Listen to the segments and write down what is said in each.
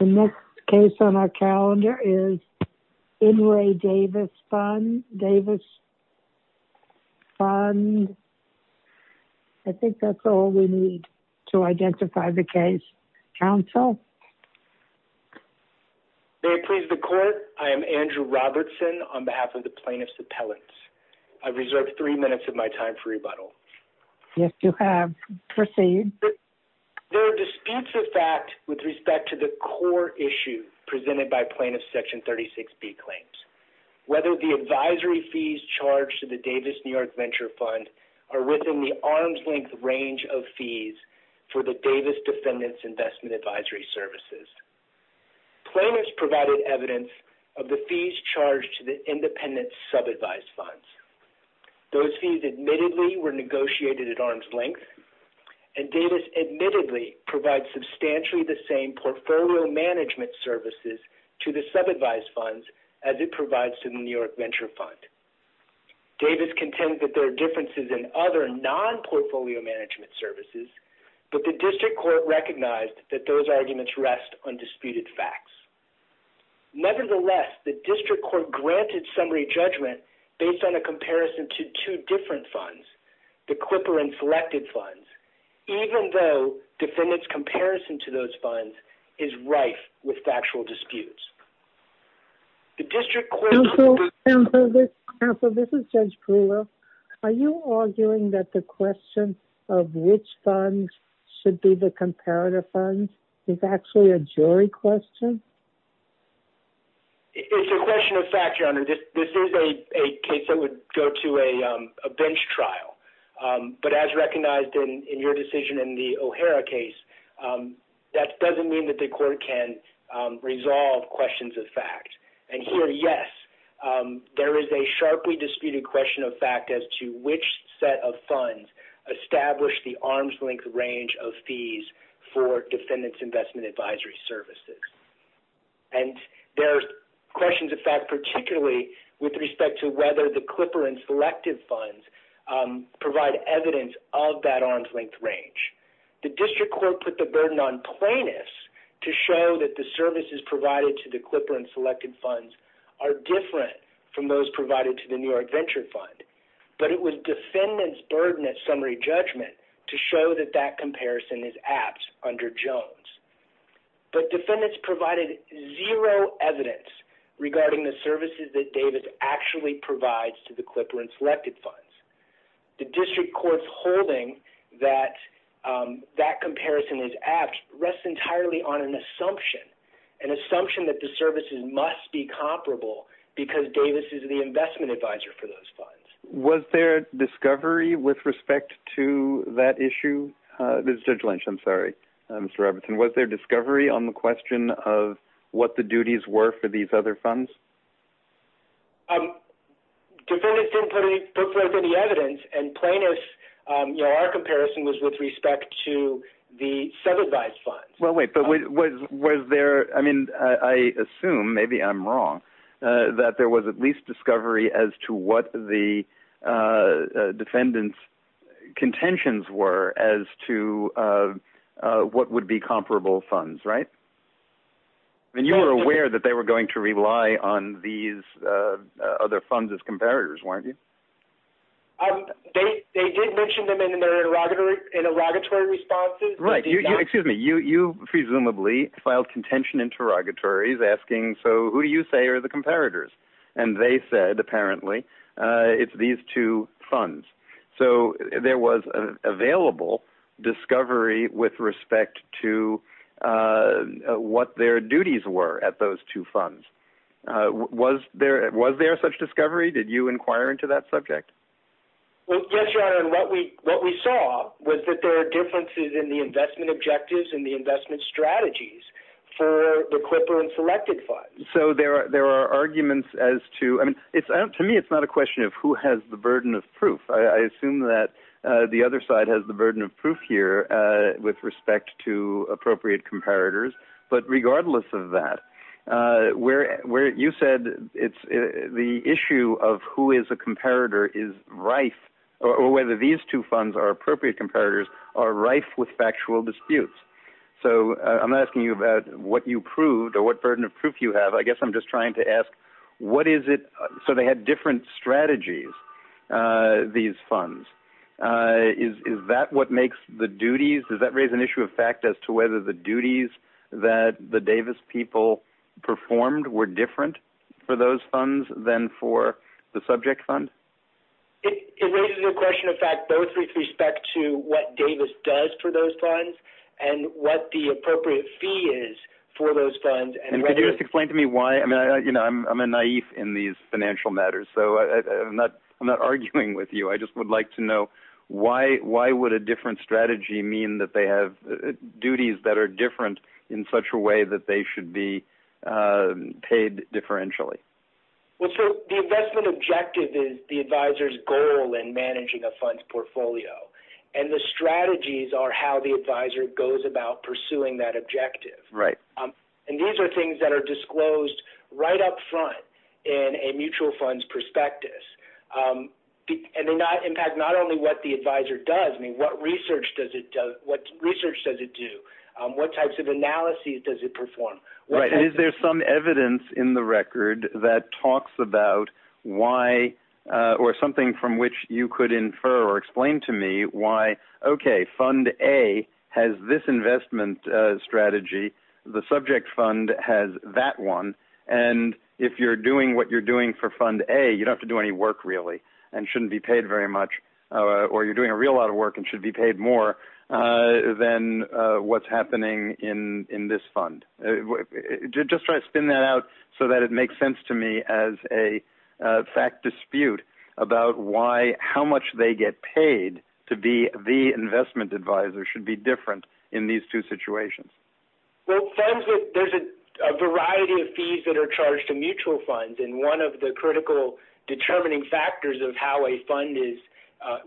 The next case on our calendar is Inouye DAVIS FUND, I think that's all we need to identify the case. Counsel? May it please the court, I am Andrew Robertson on behalf of the plaintiff's appellants. I reserve three minutes of my time for rebuttal. Yes, you have. Proceed. There are disputes of fact with respect to the core issue presented by plaintiff's section 36B claims. Whether the advisory fees charged to the DAVIS NEW YORK VENTURE FUND are within the arm's length range of fees for the DAVIS DEFENDANT'S INVESTMENT ADVISORY SERVICES. Plaintiff's provided evidence of the fees charged to the independent sub-advised funds. Those fees admittedly were negotiated at arm's length and DAVIS admittedly provides substantially the same portfolio management services to the sub-advised funds as it provides to the NEW YORK VENTURE FUND. DAVIS contends that there are differences in other non-portfolio management services, but the district court recognized that those arguments rest on disputed facts. Nevertheless, the district court granted summary judgment based on a comparison to two different funds, the quipper and selected funds, even though defendant's comparison to those funds is rife with factual disputes. The district court... Counsel, this is Judge Brewer. Are you arguing that the question of which funds should be the comparative funds is actually a jury question? It's a question of fact, Your Honor. This is a case that would go to a bench trial, but as recognized in your decision in the O'Hara case, that doesn't mean that the court can't resolve questions of fact. And here, yes, there is a sharply disputed question of fact as to which set of funds established the arm's length range of fees for defendant's investment advisory services. And there's questions of fact particularly with respect to whether the quipper and selected funds provide evidence of that arm's length range. The district court put the burden on plaintiffs to show that the services provided to the quipper and selected funds are different from those provided to the NEW YORK VENTURE FUND. But it was defendants' burden at summary judgment to show that that comparison is apt under Jones. But defendants provided zero evidence regarding the services that Davis actually provides to the quipper and selected funds. The district court's holding that that comparison is apt rests entirely on an assumption, an assumption that the services must be comparable because Davis is the investment advisor for those funds. Was there discovery with respect to that issue? This is Judge Lynch. I'm sorry, Mr. Everton. Was there discovery on the question of what the duties were for these other funds? Defendants didn't put forth any evidence, and plaintiffs, you know, our comparison was with respect to the sub-advised funds. Well, wait, but was there, I mean, I assume, maybe I'm wrong, that there was at least discovery as to what the defendants' contentions were as to what would be comparable funds, right? I mean, you were aware that they were going to rely on these other funds as comparators, weren't you? They did mention them in their interrogatory responses. Right. Excuse me. You presumably filed contention interrogatories asking, so who do you say are the comparators? And they said, apparently, it's these two funds. So there was available discovery with respect to what their duties were at those two funds. Was there such discovery? Did you inquire into that subject? Well, yes, Your Honor, and what we saw was that there are differences in the investment objectives and the investment strategies for the CLPRA and selected funds. So there are arguments as to, I mean, to me it's not a question of who has the burden of proof. I assume that the other side has the burden of proof here with respect to appropriate comparators. But regardless of that, where you said it's the issue of who is a comparator is rife, or whether these two funds are appropriate comparators, are rife with factual disputes. So I'm not asking you about what you proved or what burden of proof you have. I guess I'm just trying to ask, what is it? So they had different strategies, these funds. Is that what makes the duties? Does that raise an issue of fact as to whether the duties that the Davis people performed were different for those funds than for the subject fund? It raises a question of fact both with respect to what Davis does for those funds and what the appropriate fee is for those funds. And could you just explain to me why? I mean, you know, I'm a naive in these financial matters, so I'm not arguing with you. I just would like to know why would a different strategy mean that they have duties that are different in such a way that they should be paid differentially? Well, so the investment objective is the advisor's goal in managing a fund's portfolio. And the strategies are how the advisor goes about pursuing that objective. Right. And these are things that are disclosed right up front in a mutual fund's prospectus. And they impact not only what the advisor does, I mean, what research does it do? What types of analyses does it perform? Right. And is there some evidence in the record that talks about why or something from which you could infer or explain to me why, okay, fund A has this investment strategy, the subject fund has that one, and if you're doing what you're doing for fund A, you don't have to do any work really and shouldn't be paid very much, or you're doing a real lot of work and should be paid more than what's happening in this fund? Just try to spin that out so that it makes sense to me as a fact dispute about why, how much they get paid to be the investment advisor should be different in these two situations. Well, funds, there's a variety of fees that are charged to mutual funds, and one of the critical determining factors of how a fund is,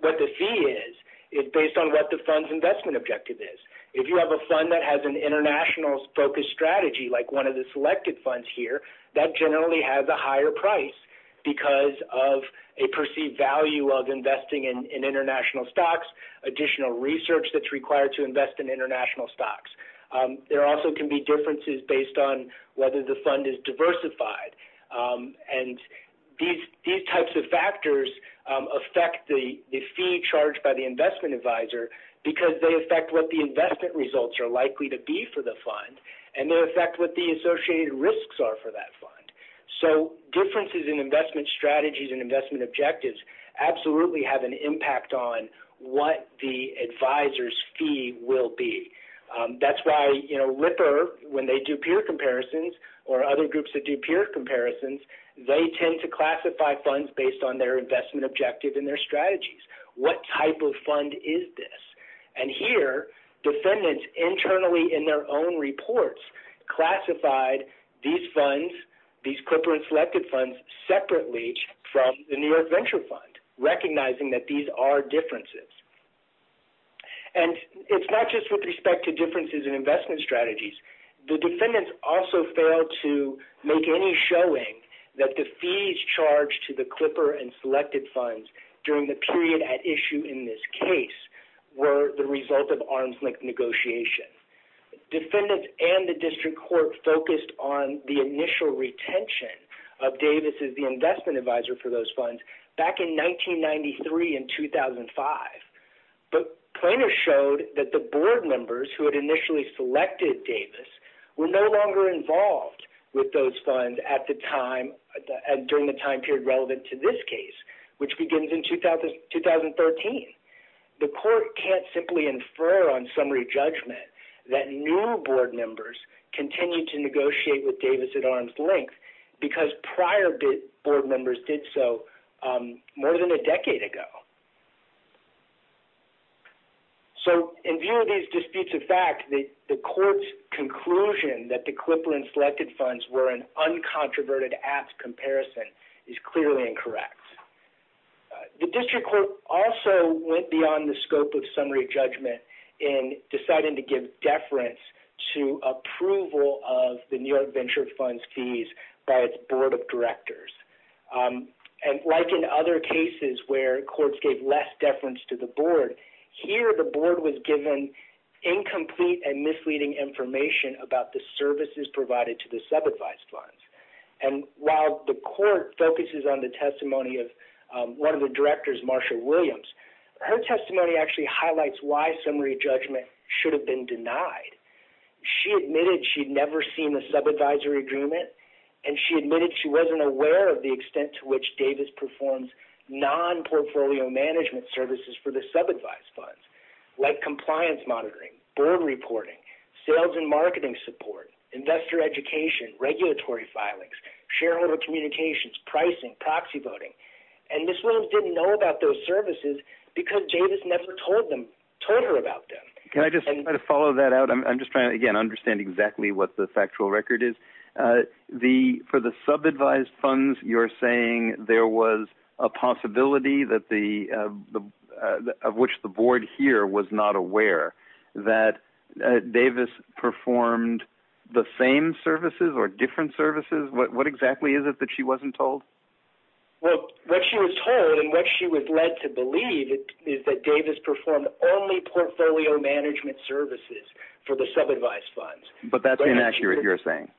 what the fee is, is based on what the fund's investment objective is. If you have a fund that has an international-focused strategy like one of the selected funds here, that generally has a higher price because of a perceived value of investing in international stocks, additional research that's required to invest in international stocks. There also can be differences based on whether the fund is diversified. And these types of factors affect the fee charged by the investment advisor because they affect what the investment results are likely to be for the fund, and they affect what the associated risks are for that fund. So differences in investment strategies and investment objectives absolutely have an impact on what the advisor's fee will be. That's why Ripper, when they do peer comparisons or other groups that do peer comparisons, they tend to classify funds based on their investment objective and their strategies. What type of fund is this? And here, defendants internally in their own reports classified these funds, these corporate-selected funds, separately from the New York Venture Fund, recognizing that these are differences. And it's not just with respect to differences in investment strategies. The defendants also failed to make any showing that the fees charged to the Clipper and selected funds during the period at issue in this case were the result of arm's-length negotiation. Defendants and the district court focused on the initial retention of Davis as the investment advisor for those funds back in 1993 and 2005. But plaintiffs showed that the board members who had initially selected Davis were no longer involved with those funds during the time period relevant to this case, which begins in 2013. The court can't simply infer on summary judgment that new board members continue to negotiate with Davis at arm's length because prior board members did so more than a decade ago. So in view of these disputes of fact, the court's conclusion that the Clipper and selected funds were an uncontroverted apt comparison is clearly incorrect. The district court also went beyond the scope of summary judgment in deciding to give deference to approval of the New York Venture Fund's fees by its board of directors. And like in other cases where courts gave less deference to the board, here the board was given incomplete and misleading information about the services provided to the sub-advised funds. And while the court focuses on the testimony of one of the directors, Marcia Williams, her testimony actually highlights why summary judgment should have been denied. She admitted she'd never seen a sub-advisory agreement, and she admitted she wasn't aware of the extent to which Davis performs non-portfolio management services for the sub-advised funds, like compliance monitoring, board reporting, sales and marketing support, investor education, regulatory filings, shareholder communications, pricing, proxy voting. And Ms. Williams didn't know about those services because Davis never told her about them. Can I just kind of follow that out? I'm just trying to, again, understand exactly what the factual record is. For the sub-advised funds, you're saying there was a possibility of which the board here was not aware that Davis performed the same services or different services? What exactly is it that she wasn't told? Well, what she was told and what she was led to believe is that Davis performed only portfolio management services for the sub-advised funds. But that's inaccurate, you're saying?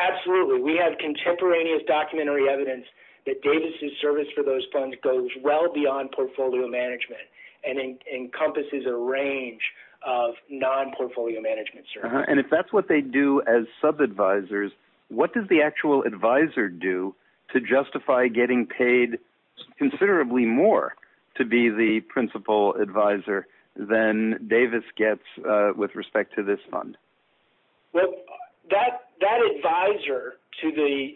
Absolutely. We have contemporaneous documentary evidence that Davis' service for those funds goes well beyond portfolio management and encompasses a range of non-portfolio management services. And if that's what they do as sub-advisors, what does the actual advisor do to justify getting paid considerably more to be the principal advisor than Davis gets with respect to this fund? Well, that advisor to the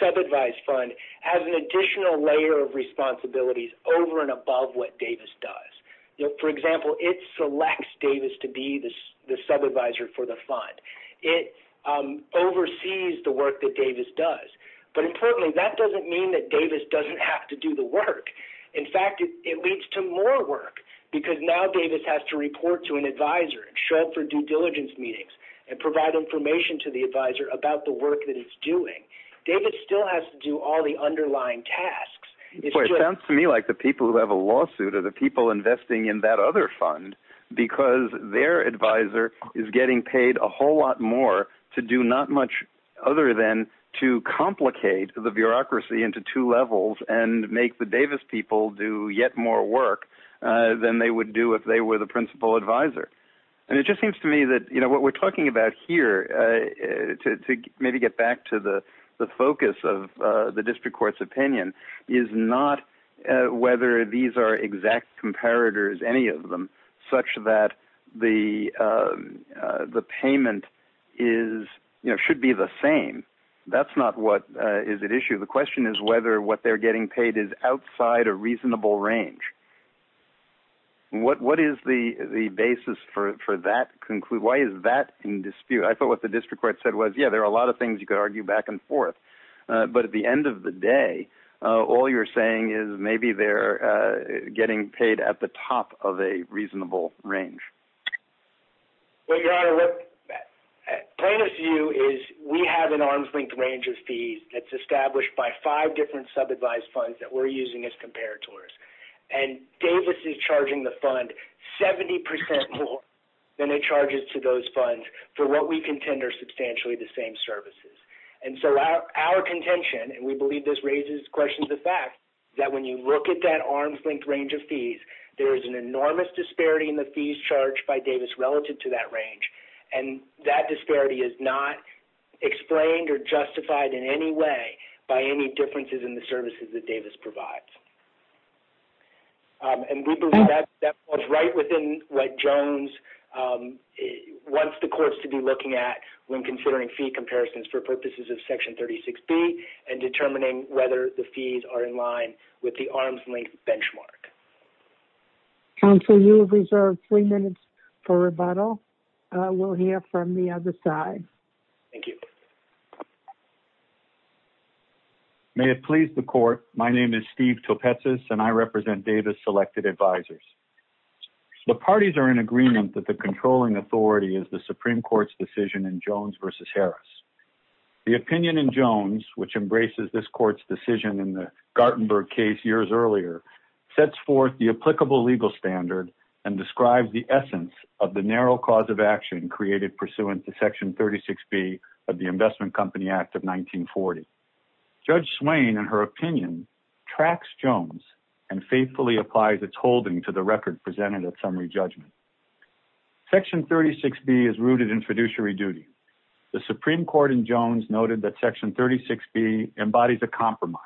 sub-advised fund has an additional layer of responsibilities over and above what Davis does. For example, it selects Davis to be the sub-advisor for the fund. It oversees the work that Davis does. But importantly, that doesn't mean that Davis doesn't have to do the work. In fact, it leads to more work because now Davis has to report to an advisor and show up for due diligence meetings and provide information to the advisor about the work that he's doing. Davis still has to do all the underlying tasks. It sounds to me like the people who have a lawsuit are the people investing in that other fund because their advisor is getting paid a whole lot more to do not much other than to complicate the bureaucracy into two levels and make the Davis people do yet more work than they would do if they were the principal advisor. And it just seems to me that what we're talking about here, to maybe get back to the focus of the district court's opinion, is not whether these are exact comparators, any of them, such that the payment should be the same. That's not what is at issue. The question is whether what they're getting paid is outside a reasonable range. What is the basis for that? Why is that in dispute? I thought what the district court said was, yeah, there are a lot of things you could argue back and forth. But at the end of the day, all you're saying is maybe they're getting paid at the top of a reasonable range. Well, Your Honor, the point of view is we have an arm's length range of fees that's established by five different sub-advised funds that we're using as comparators. And Davis is charging the fund 70% more than it charges to those funds for what we contend are substantially the same services. And so our contention, and we believe this raises questions of fact, that when you look at that arm's length range of fees, there is an enormous disparity in the fees charged by Davis relative to that range. And that disparity is not explained or justified in any way by any differences in the services that Davis provides. And we believe that falls right within what Jones wants the courts to be looking at when considering fee comparisons for purposes of Section 36B and determining whether the fees are in line with the arm's length benchmark. Counsel, you have reserved three minutes for rebuttal. We'll hear from the other side. Thank you. May it please the court, my name is Steve Topetsis, and I represent Davis Selected Advisors. The parties are in agreement that the controlling authority is the Supreme Court's decision in Jones v. Harris. The opinion in Jones, which embraces this court's decision in the Gartenberg case years earlier, sets forth the applicable legal standard and describes the essence of the narrow cause of action created pursuant to Section 36B of the Investment Company Act of 1940. Judge Swain, in her opinion, tracks Jones and faithfully applies its holding to the record presented at summary judgment. Section 36B is rooted in fiduciary duty. The Supreme Court in Jones noted that Section 36B embodies a compromise,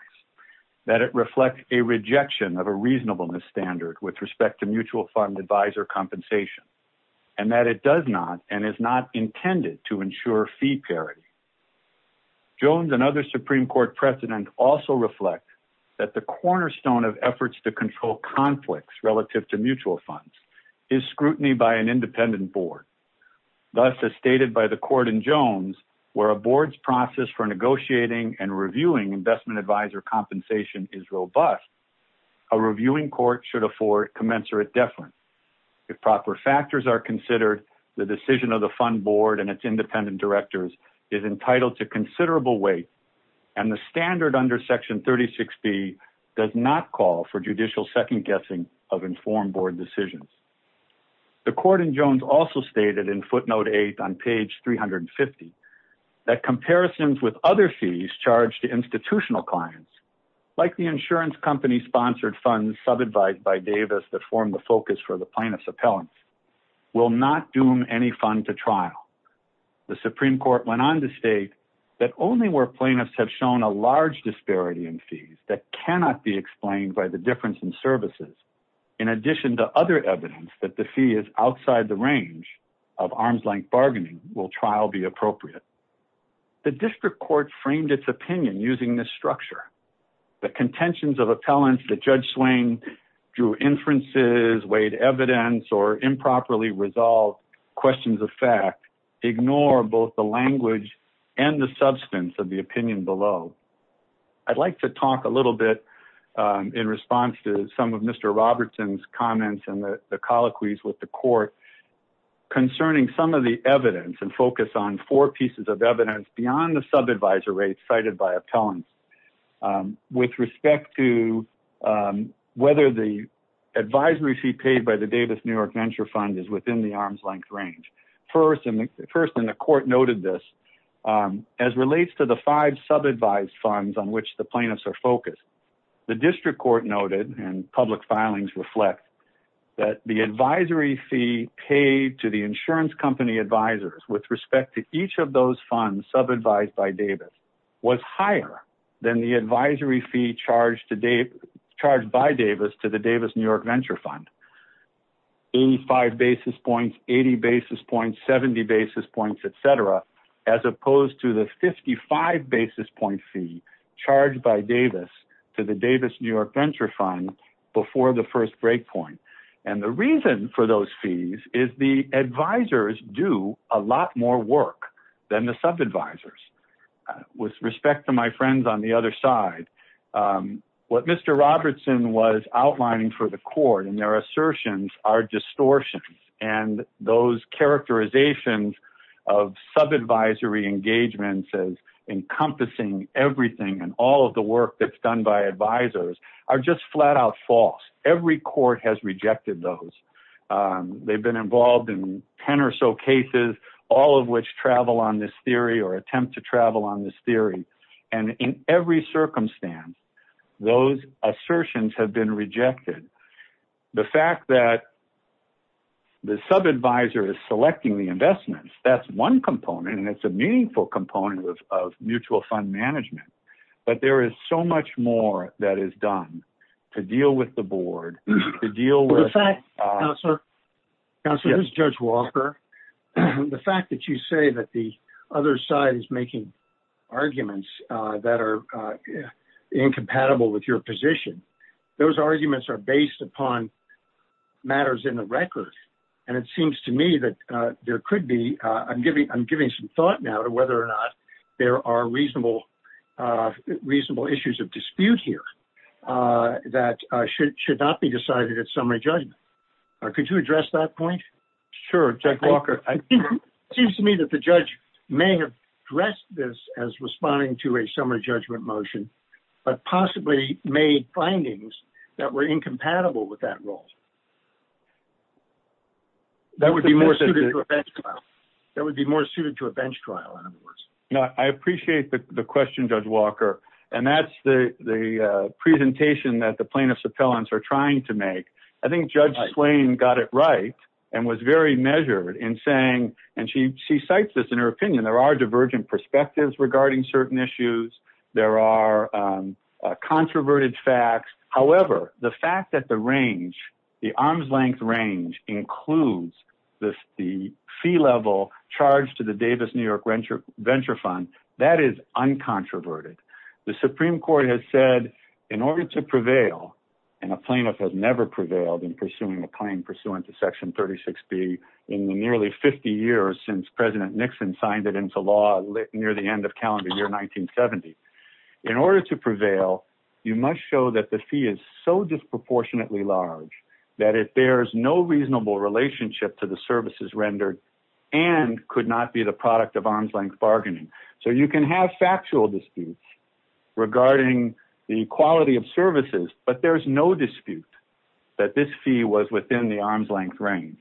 that it reflects a rejection of a reasonableness standard with respect to mutual fund advisor compensation, and that it does not and is not intended to ensure fee parity. Jones and other Supreme Court precedents also reflect that the cornerstone of efforts to control conflicts relative to mutual funds is scrutiny by an independent board. Thus, as stated by the court in Jones, where a board's process for negotiating and reviewing investment advisor compensation is robust, a reviewing court should afford commensurate deference. If proper factors are considered, the decision of the fund board and its independent directors is entitled to considerable weight, and the standard under Section 36B does not call for judicial second-guessing of informed board decisions. The court in Jones also stated in footnote 8 on page 350 that comparisons with other fees charged to institutional clients, like the insurance company-sponsored funds sub-advised by Davis that form the focus for the plaintiff's appellants, will not doom any fund to trial. The Supreme Court went on to state that only where plaintiffs have shown a large disparity in fees that cannot be explained by the difference in services, in addition to other evidence that the fee is outside the range of arm's-length bargaining, will trial be appropriate. The district court framed its opinion using this structure. The contentions of appellants that Judge Swain drew inferences, weighed evidence, or improperly resolved questions of fact ignore both the language and the substance of the opinion below. I'd like to talk a little bit in response to some of Mr. Robertson's comments and the colloquies with the court concerning some of the evidence and focus on four pieces of evidence beyond the sub-advisor rates cited by appellants with respect to whether the advisory fee paid by the Davis New York Venture Fund is within the arm's-length range. First, and the court noted this, as relates to the five sub-advised funds on which the plaintiffs are focused, the district court noted, and public filings reflect, that the advisory fee paid to the insurance company advisors with respect to each of those funds sub-advised by Davis was higher than the advisory fee charged by Davis to the Davis New York Venture Fund, 85 basis points, 80 basis points, 70 basis points, et cetera, as opposed to the 55 basis point fee charged by Davis to the Davis New York Venture Fund before the first breakpoint. And the reason for those fees is the advisors do a lot more work than the sub-advisors. With respect to my friends on the other side, what Mr. Robertson was outlining for the court in their assertions are distortions, and those characterizations of sub-advisory engagements as encompassing everything and all of the work that's done by advisors are just flat-out false. Every court has rejected those. They've been involved in 10 or so cases, all of which travel on this theory or attempt to travel on this theory. And in every circumstance, those assertions have been rejected. The fact that the sub-advisor is selecting the investments, that's one component, and it's a meaningful component of mutual fund management, but there is so much more that is done to deal with the board, to deal with- The fact that you say that the other side is making arguments that are incompatible with your position, those arguments are based upon matters in the record, and it seems to me that there could be- I'm giving some thought now to whether or not there are reasonable issues of dispute here that should not be decided at summary judgment. Could you address that point? Sure, Judge Walker. It seems to me that the judge may have addressed this as responding to a summary judgment motion, but possibly made findings that were incompatible with that rule. That would be more suited to a bench trial. That would be more suited to a bench trial, in other words. I appreciate the question, Judge Walker, and that's the presentation that the plaintiffs' appellants are trying to make. I think Judge Slane got it right, and was very measured in saying, and she cites this in her opinion, there are divergent perspectives regarding certain issues. There are controverted facts. However, the fact that the range, the arm's length range, includes the fee level charged to the Davis New York Venture Fund, that is uncontroverted. The Supreme Court has said in order to prevail, and a plaintiff has never prevailed in pursuing a claim pursuant to Section 36B in the nearly 50 years since President Nixon signed it into law, near the end of calendar year 1970. In order to prevail, you must show that the fee is so disproportionately large that it bears no reasonable relationship to the services rendered and could not be the product of arm's length bargaining. So you can have factual disputes regarding the quality of services, but there's no dispute that this fee was within the arm's length range.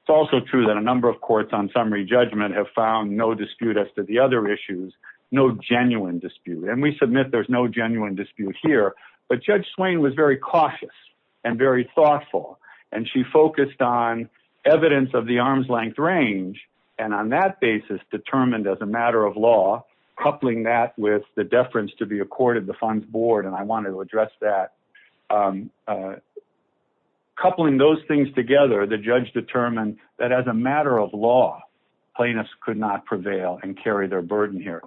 It's also true that a number of courts on summary judgment have found no dispute as to the other issues, no genuine dispute. And we submit there's no genuine dispute here, but Judge Slane was very cautious and very thoughtful, and she focused on evidence of the arm's length range, and on that basis determined as a matter of law, coupling that with the deference to be accorded the fund's board, and I wanted to address that. Coupling those things together, the judge determined that as a matter of law, plaintiffs could not prevail and carry their burden here.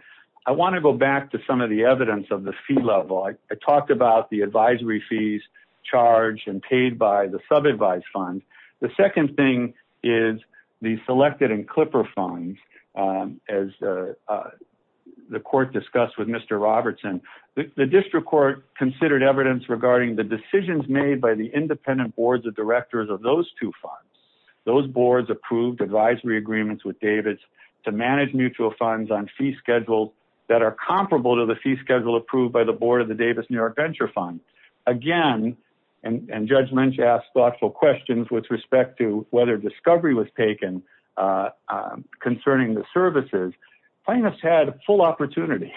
I want to go back to some of the evidence of the fee level. I talked about the advisory fees charged and paid by the sub-advised fund. The second thing is the selected and clipper funds, as the court discussed with Mr. Robertson. The district court considered evidence regarding the decisions made by the independent boards of directors of those two funds. Those boards approved advisory agreements with Davis to manage mutual funds on fee schedules that are comparable to the fee schedule approved by the board of the Davis New York Venture Fund. Again, and Judge Lynch asked thoughtful questions with respect to whether discovery was taken concerning the services, the services that were available to the plaintiff's appellants. Plaintiffs had a full opportunity.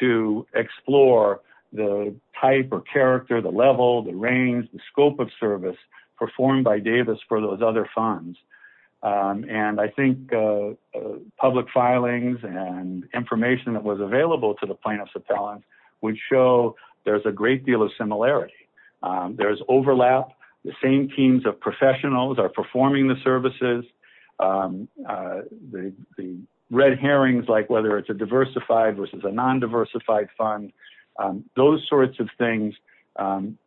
To explore the type or character, the level, the range, the scope of service performed by Davis for those other funds. And I think. Public filings and information that was available to the plaintiff's appellant would show there's a great deal of similarity. There's overlap. The same teams of professionals are performing the services. The red herrings, like whether it's a diversified versus a non-diversified fund, those sorts of things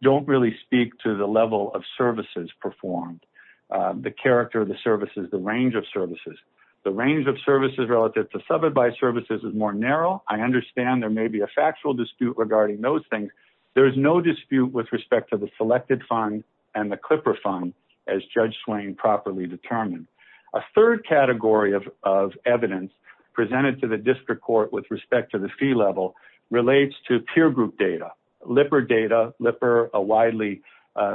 don't really speak to the level of services performed. The character of the services, the range of services, the range of services relative to sub-advised services is more narrow. I understand there may be a factual dispute regarding those things. There is no dispute with respect to the selected fund and the Clipper fund as Judge Swain properly determined. A third category of, of evidence presented to the district court with respect to the fee level relates to peer group data, Lipper data, Lipper a widely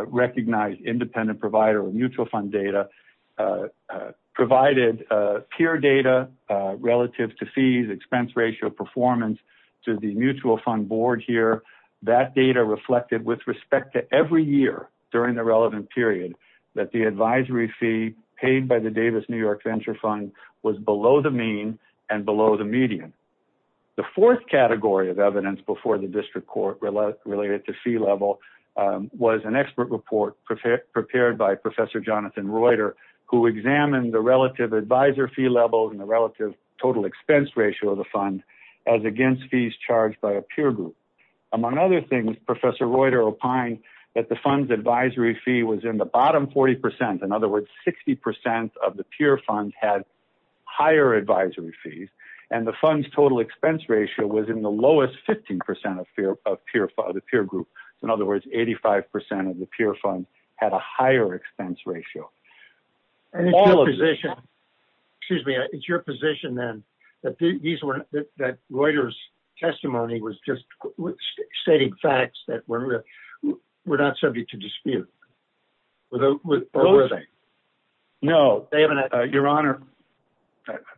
recognized independent provider of mutual fund data. Provided peer data relative to fees, expense ratio performance to the mutual fund board here. That data reflected with respect to every year during the relevant period that the advisory fee paid by the Davis, New York venture fund was below the mean and below the median. The fourth category of evidence before the district court related to fee level was an expert report prepared by professor Jonathan Reuter, who examined the relative advisor fee levels and the relative total expense ratio of the fund as against fees charged by a peer group. Among other things, professor Reuter opined that the funds advisory fee was in the bottom 40%. In other words, 60% of the peer funds had higher advisory fees and the funds, total expense ratio was in the lowest 15% of fear of peer father, peer group. In other words, 85% of the peer funds had a higher expense ratio. And all of this. Excuse me. It's your position then that these were that Reuters. Testimony was just stating facts that were. We're not subject to dispute. No, they haven't. Your honor.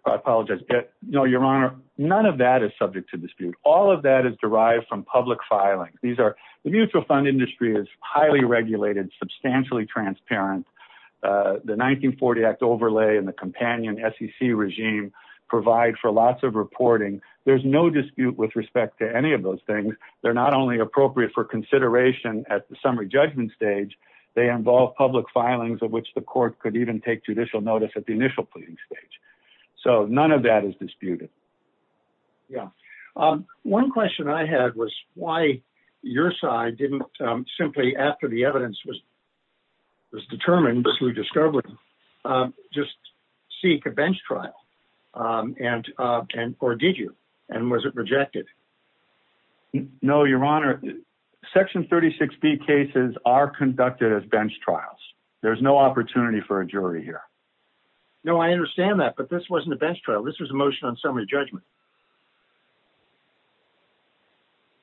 I apologize. No, your honor. None of that is subject to dispute. All of that is derived from public filing. These are the mutual fund industry is highly regulated, Substantially transparent. The 1940 act overlay and the companion sec regime provide for lots of reporting. There's no dispute with respect to any of those things. They're not only appropriate for consideration at the summary judgment stage. They involve public filings of which the court could even take judicial notice at the initial pleading stage. So none of that is disputed. Yeah. One question I had was why. Your side didn't simply after the evidence was. Was determined. We discovered just seek a bench trial. And, and, or did you, and was it rejected? No, your honor. Section 36 B cases are conducted as bench trials. There's no opportunity for a jury here. No, I understand that, but this wasn't the best trial. This was a motion on summary judgment.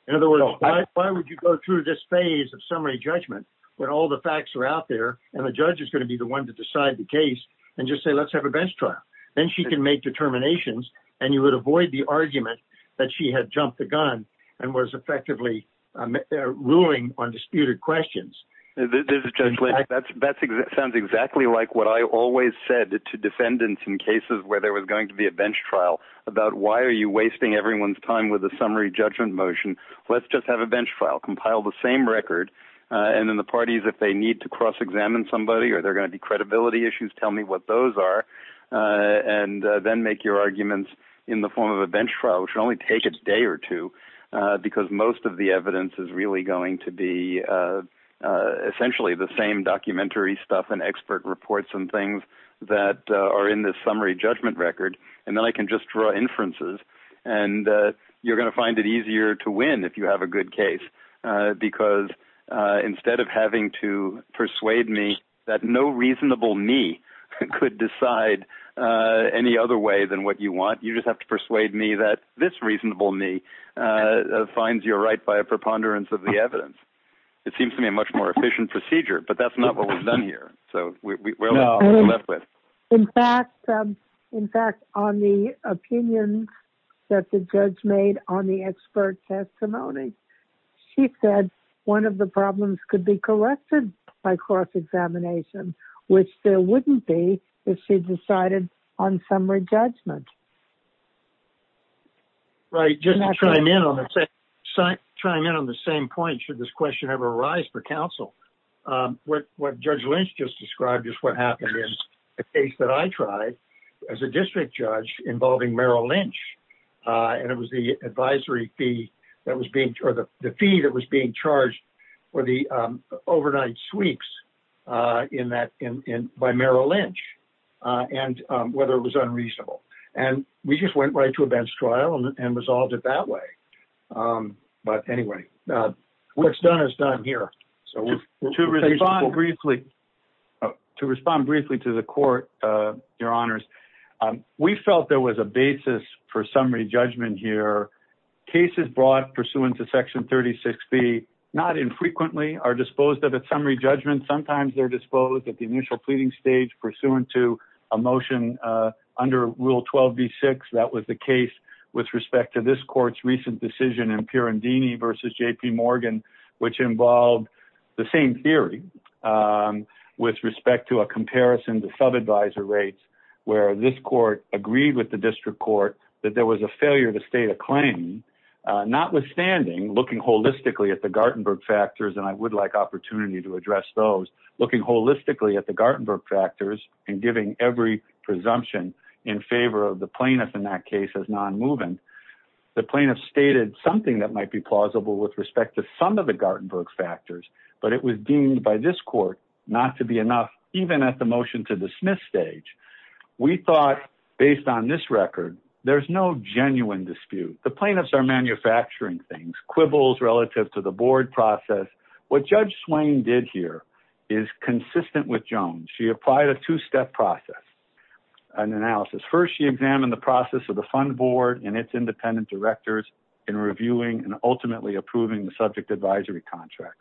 In other words, why would you go through this phase of summary judgment when all the facts are out there and the judge is going to be the one to decide the case and just say, let's have a bench trial. Then she can make determinations and you would avoid the argument that she had jumped the gun. And was effectively. Ruling on disputed questions. That's sounds exactly like what I always said to defendants in cases where there was going to be a bench trial about why are you wasting everyone's time with a summary judgment motion? Let's just have a bench file, compile the same record. And then the parties, if they need to cross-examine somebody, or they're going to be credibility issues, tell me what those are. And then make your arguments in the form of a bench trial, which will only take a day or two because most of the evidence is really going to be essentially the same documentary stuff and expert reports and things that are in this summary judgment record. And then I can just draw inferences and you're going to find it easier to win if you have a good case, because instead of having to persuade me that no reasonable knee could decide any other way than what you want, you just have to persuade me that this reasonable knee finds your right by a preponderance of the evidence. It seems to me a much more efficient procedure, but that's not what we've done here. So we're left with. In fact, in fact, on the opinion that the judge made on the expert testimony, she said one of the problems could be corrected by cross-examination, which there wouldn't be if she decided on summary judgment. Right. Just trying in on the same point. Should this question ever arise for council? What judge Lynch just described is what happened is a case that I tried as a district judge involving Merrill Lynch. And it was the advisory fee that was being, or the fee that was being charged for the overnight sweeps in that, in, in by Merrill Lynch and whether it was unreasonable. And we just went right to a bench trial and resolved it that way. But anyway, what's done is done here. So to respond briefly to the court, your honors, we felt there was a basis for summary judgment here. Cases brought pursuant to section 36 B not infrequently are disposed of at summary judgment. Sometimes they're disposed at the initial pleading stage pursuant to emotion under rule 12 V six. That was the case with respect to this court's recent decision in pure and Dini versus JP Morgan, which involved the same theory with respect to a comparison to sub advisor rates, where this court agreed with the district court that there was a failure to state a claim notwithstanding looking holistically at the Gartenberg factors. And I would like opportunity to address those looking holistically at the presumption in favor of the plaintiff in that case as non-moving the plaintiff stated something that might be plausible with respect to some of the Gartenberg factors, but it was deemed by this court not to be enough, even at the motion to dismiss stage, we thought based on this record, there's no genuine dispute. The plaintiffs are manufacturing things quibbles relative to the board process. What judge Swain did here is consistent with Jones. She applied a two-step process. An analysis first, she examined the process of the fund board and its independent directors in reviewing and ultimately approving the subject advisory contract.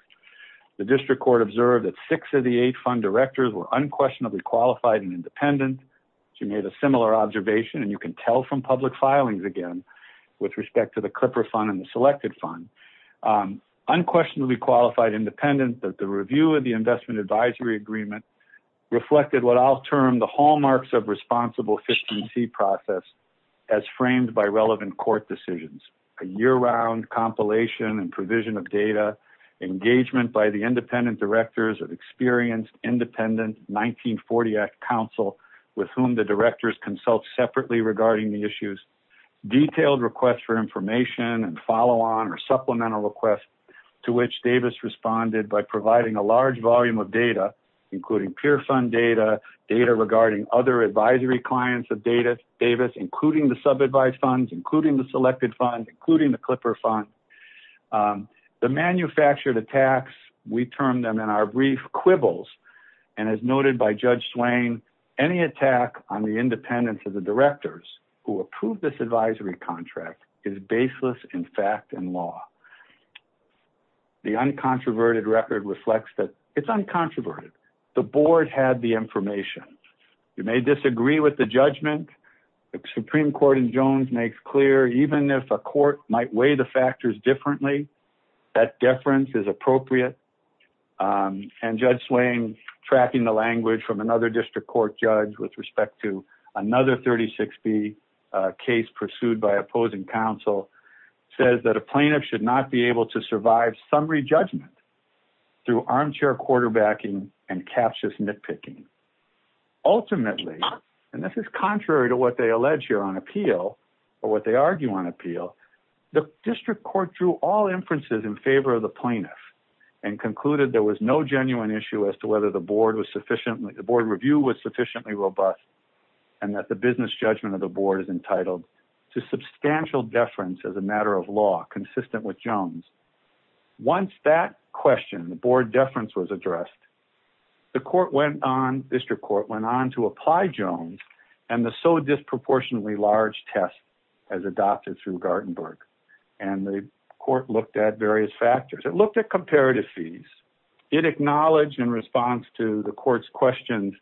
The district court observed that six of the eight fund directors were unquestionably qualified and independent. She made a similar observation and you can tell from public filings again, with respect to the Clipper fund and the selected fund unquestionably qualified independent that the review of the investment advisory agreement reflected what I'll term, the hallmarks of responsible efficiency process as framed by relevant court decisions, a year round compilation and provision of data engagement by the independent directors of experienced independent 1940 act council with whom the directors consult separately regarding the issues, detailed requests for information and follow on or supplemental requests to which Davis responded by providing a large volume of data, including peer fund data data regarding other advisory clients of data Davis, including the sub advised funds, including the selected fund, including the Clipper fund, um, the manufactured attacks. We termed them in our brief quibbles and as noted by judge Swain, any attack on the independence of the directors who approved this advisory contract is baseless. In fact, in law. The uncontroverted record reflects that it's uncontroverted. The board had the information. You may disagree with the judgment. The Supreme court in Jones makes clear, even if a court might weigh the factors differently, that difference is appropriate. Um, and judge Swain tracking the language from another district court judge with respect to another 36 B, uh, case pursued by opposing council says that a plaintiff should not be able to survive summary judgment through armchair, quarterbacking and captious nitpicking ultimately. And this is contrary to what they allege here on appeal or what they argue on appeal. The district court drew all inferences in favor of the plaintiff and concluded there was no genuine issue as to whether the board was sufficiently the board review was sufficiently robust and that the business judgment of the board is entitled to substantial deference as a matter of law, consistent with Jones. Once that question, the board deference was addressed. The court went on, district court went on to apply Jones and the so disproportionately large test as adopted through Gartenberg. And the court looked at various factors. It looked at comparative fees. It acknowledged in response to the court's questions,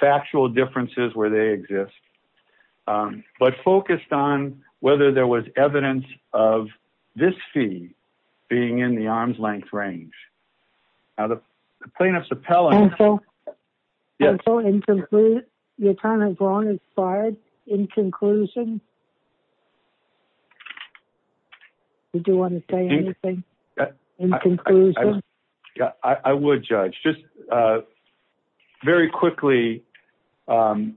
factual differences where they exist, um, but focused on whether there was evidence of this fee being in the arm's length range. Now the plaintiff's appellant. Yeah. You're trying to go on as far as in conclusion. Do you want to say anything? Yeah, I would judge just, uh, very quickly. Um,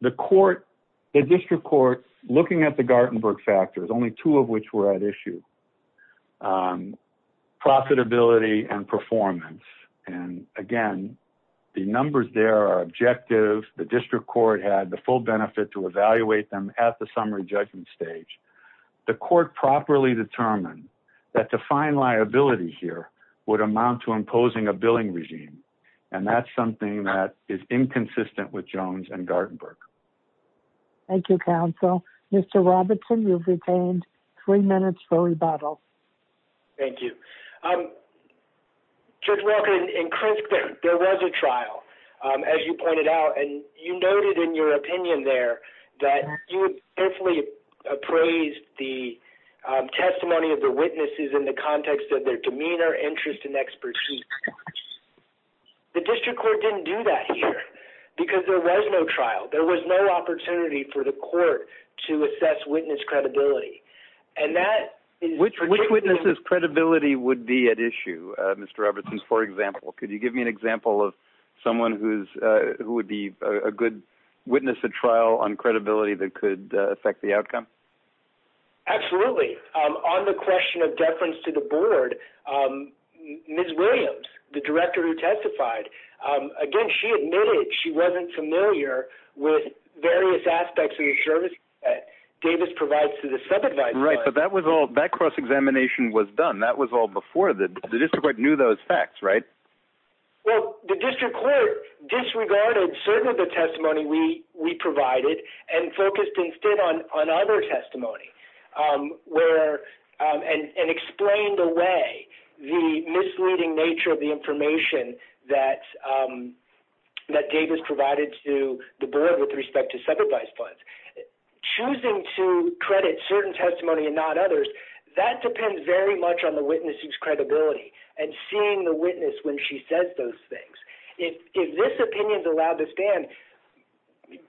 the court, the district court looking at the Gartenberg factors, only two of which were at issue, um, profitability and performance. And again, the numbers there are objective. The district court had the full benefit to evaluate them at the summary judgment stage, the court properly determined that to find liability here would amount to imposing a billing regime. And that's something that is inconsistent with Jones and Gartenberg. Thank you, counsel. Mr. Robertson, you've retained three minutes for rebuttal. Thank you. Um, Judge Walker and Chris, there was a trial, um, as you pointed out, and you noted in your opinion there that you would definitely appraise the testimony of the witnesses in the context of their demeanor, their interest and expertise. The district court didn't do that here because there was no trial. There was no opportunity for the court to assess witness credibility. And that is. Which witnesses credibility would be at issue. Uh, Mr. Robertson, for example, could you give me an example of someone who's, uh, who would be a good witness, a trial on credibility that could affect the outcome? Absolutely. Um, on the question of deference to the board, um, Ms. Williams, the director who testified, um, again, she admitted she wasn't familiar with various aspects of the service. Uh, Davis provides to the subadvisor. Right. But that was all that cross-examination was done. That was all before the district court knew those facts, right? Well, the district court disregarded certain of the testimony we, we provided and focused instead on, on other testimony, um, where, um, and, and explained the way the misleading nature of the information that, um, that Davis provided to the board with respect to subadvised funds, choosing to credit certain testimony and not others that depends very much on the witnesses credibility and seeing the witness. When she says those things, if, if this opinion is allowed to stand,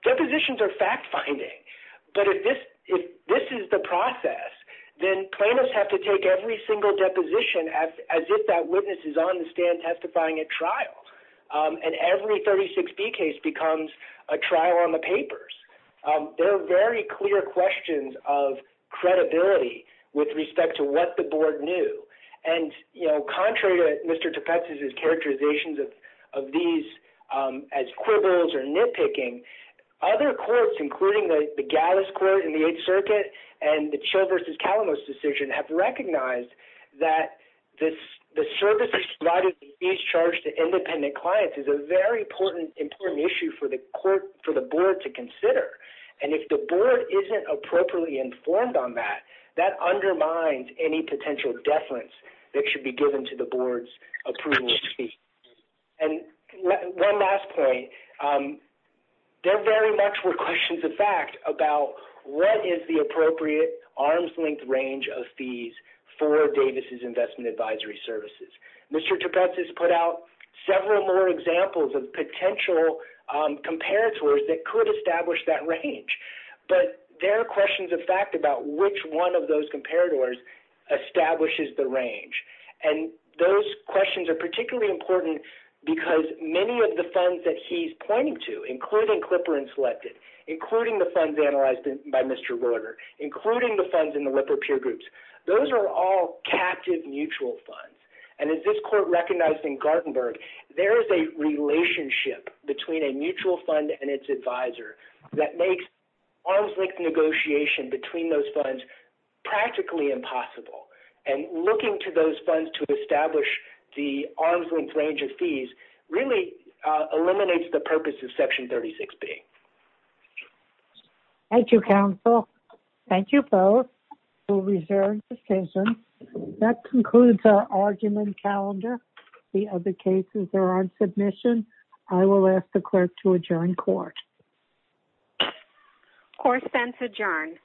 depositions are fact finding, but if this, if this is the process, then plaintiffs have to take every single deposition as, as if that witness is on the stand testifying at trials. Um, and every 36 B case becomes a trial on the papers. Um, there are very clear questions of credibility with respect to what the board knew. And, you know, contrary to Mr. Tepetz's, his characterizations of, of these, um, as quibbles or nitpicking other courts, including the Gallus court in the eighth circuit and the chill versus Calamos decision have recognized that this, the services is charged to independent clients is a very important, important issue for the court, for the board to consider. And if the board isn't appropriately informed on that, that undermines any potential deference that should be given to the board's approval. And one last point, um, there very much were questions of fact about what is the appropriate arm's length range of fees for Davis's investment advisory services. Mr. Tepetz has put out several more examples of potential, um, comparators that could establish that range, but there are questions of fact about which one of those comparators establishes the range. And those questions are particularly important because many of the funds that he's pointing to, including Clipper and selected, including the funds analyzed by Mr. Roeder, including the funds in the whipper peer groups, those are all captive mutual funds. And as this court recognized in Gartenberg, there is a relationship between a mutual fund and its advisor that makes arms length negotiation between those funds, practically impossible. And looking to those funds to establish the arm's length range of fees really eliminates the purpose of section 36B. Thank you, counsel. Thank you both. That concludes our argument calendar. The other cases are on submission. I will ask the clerk to adjourn court. Court is adjourned.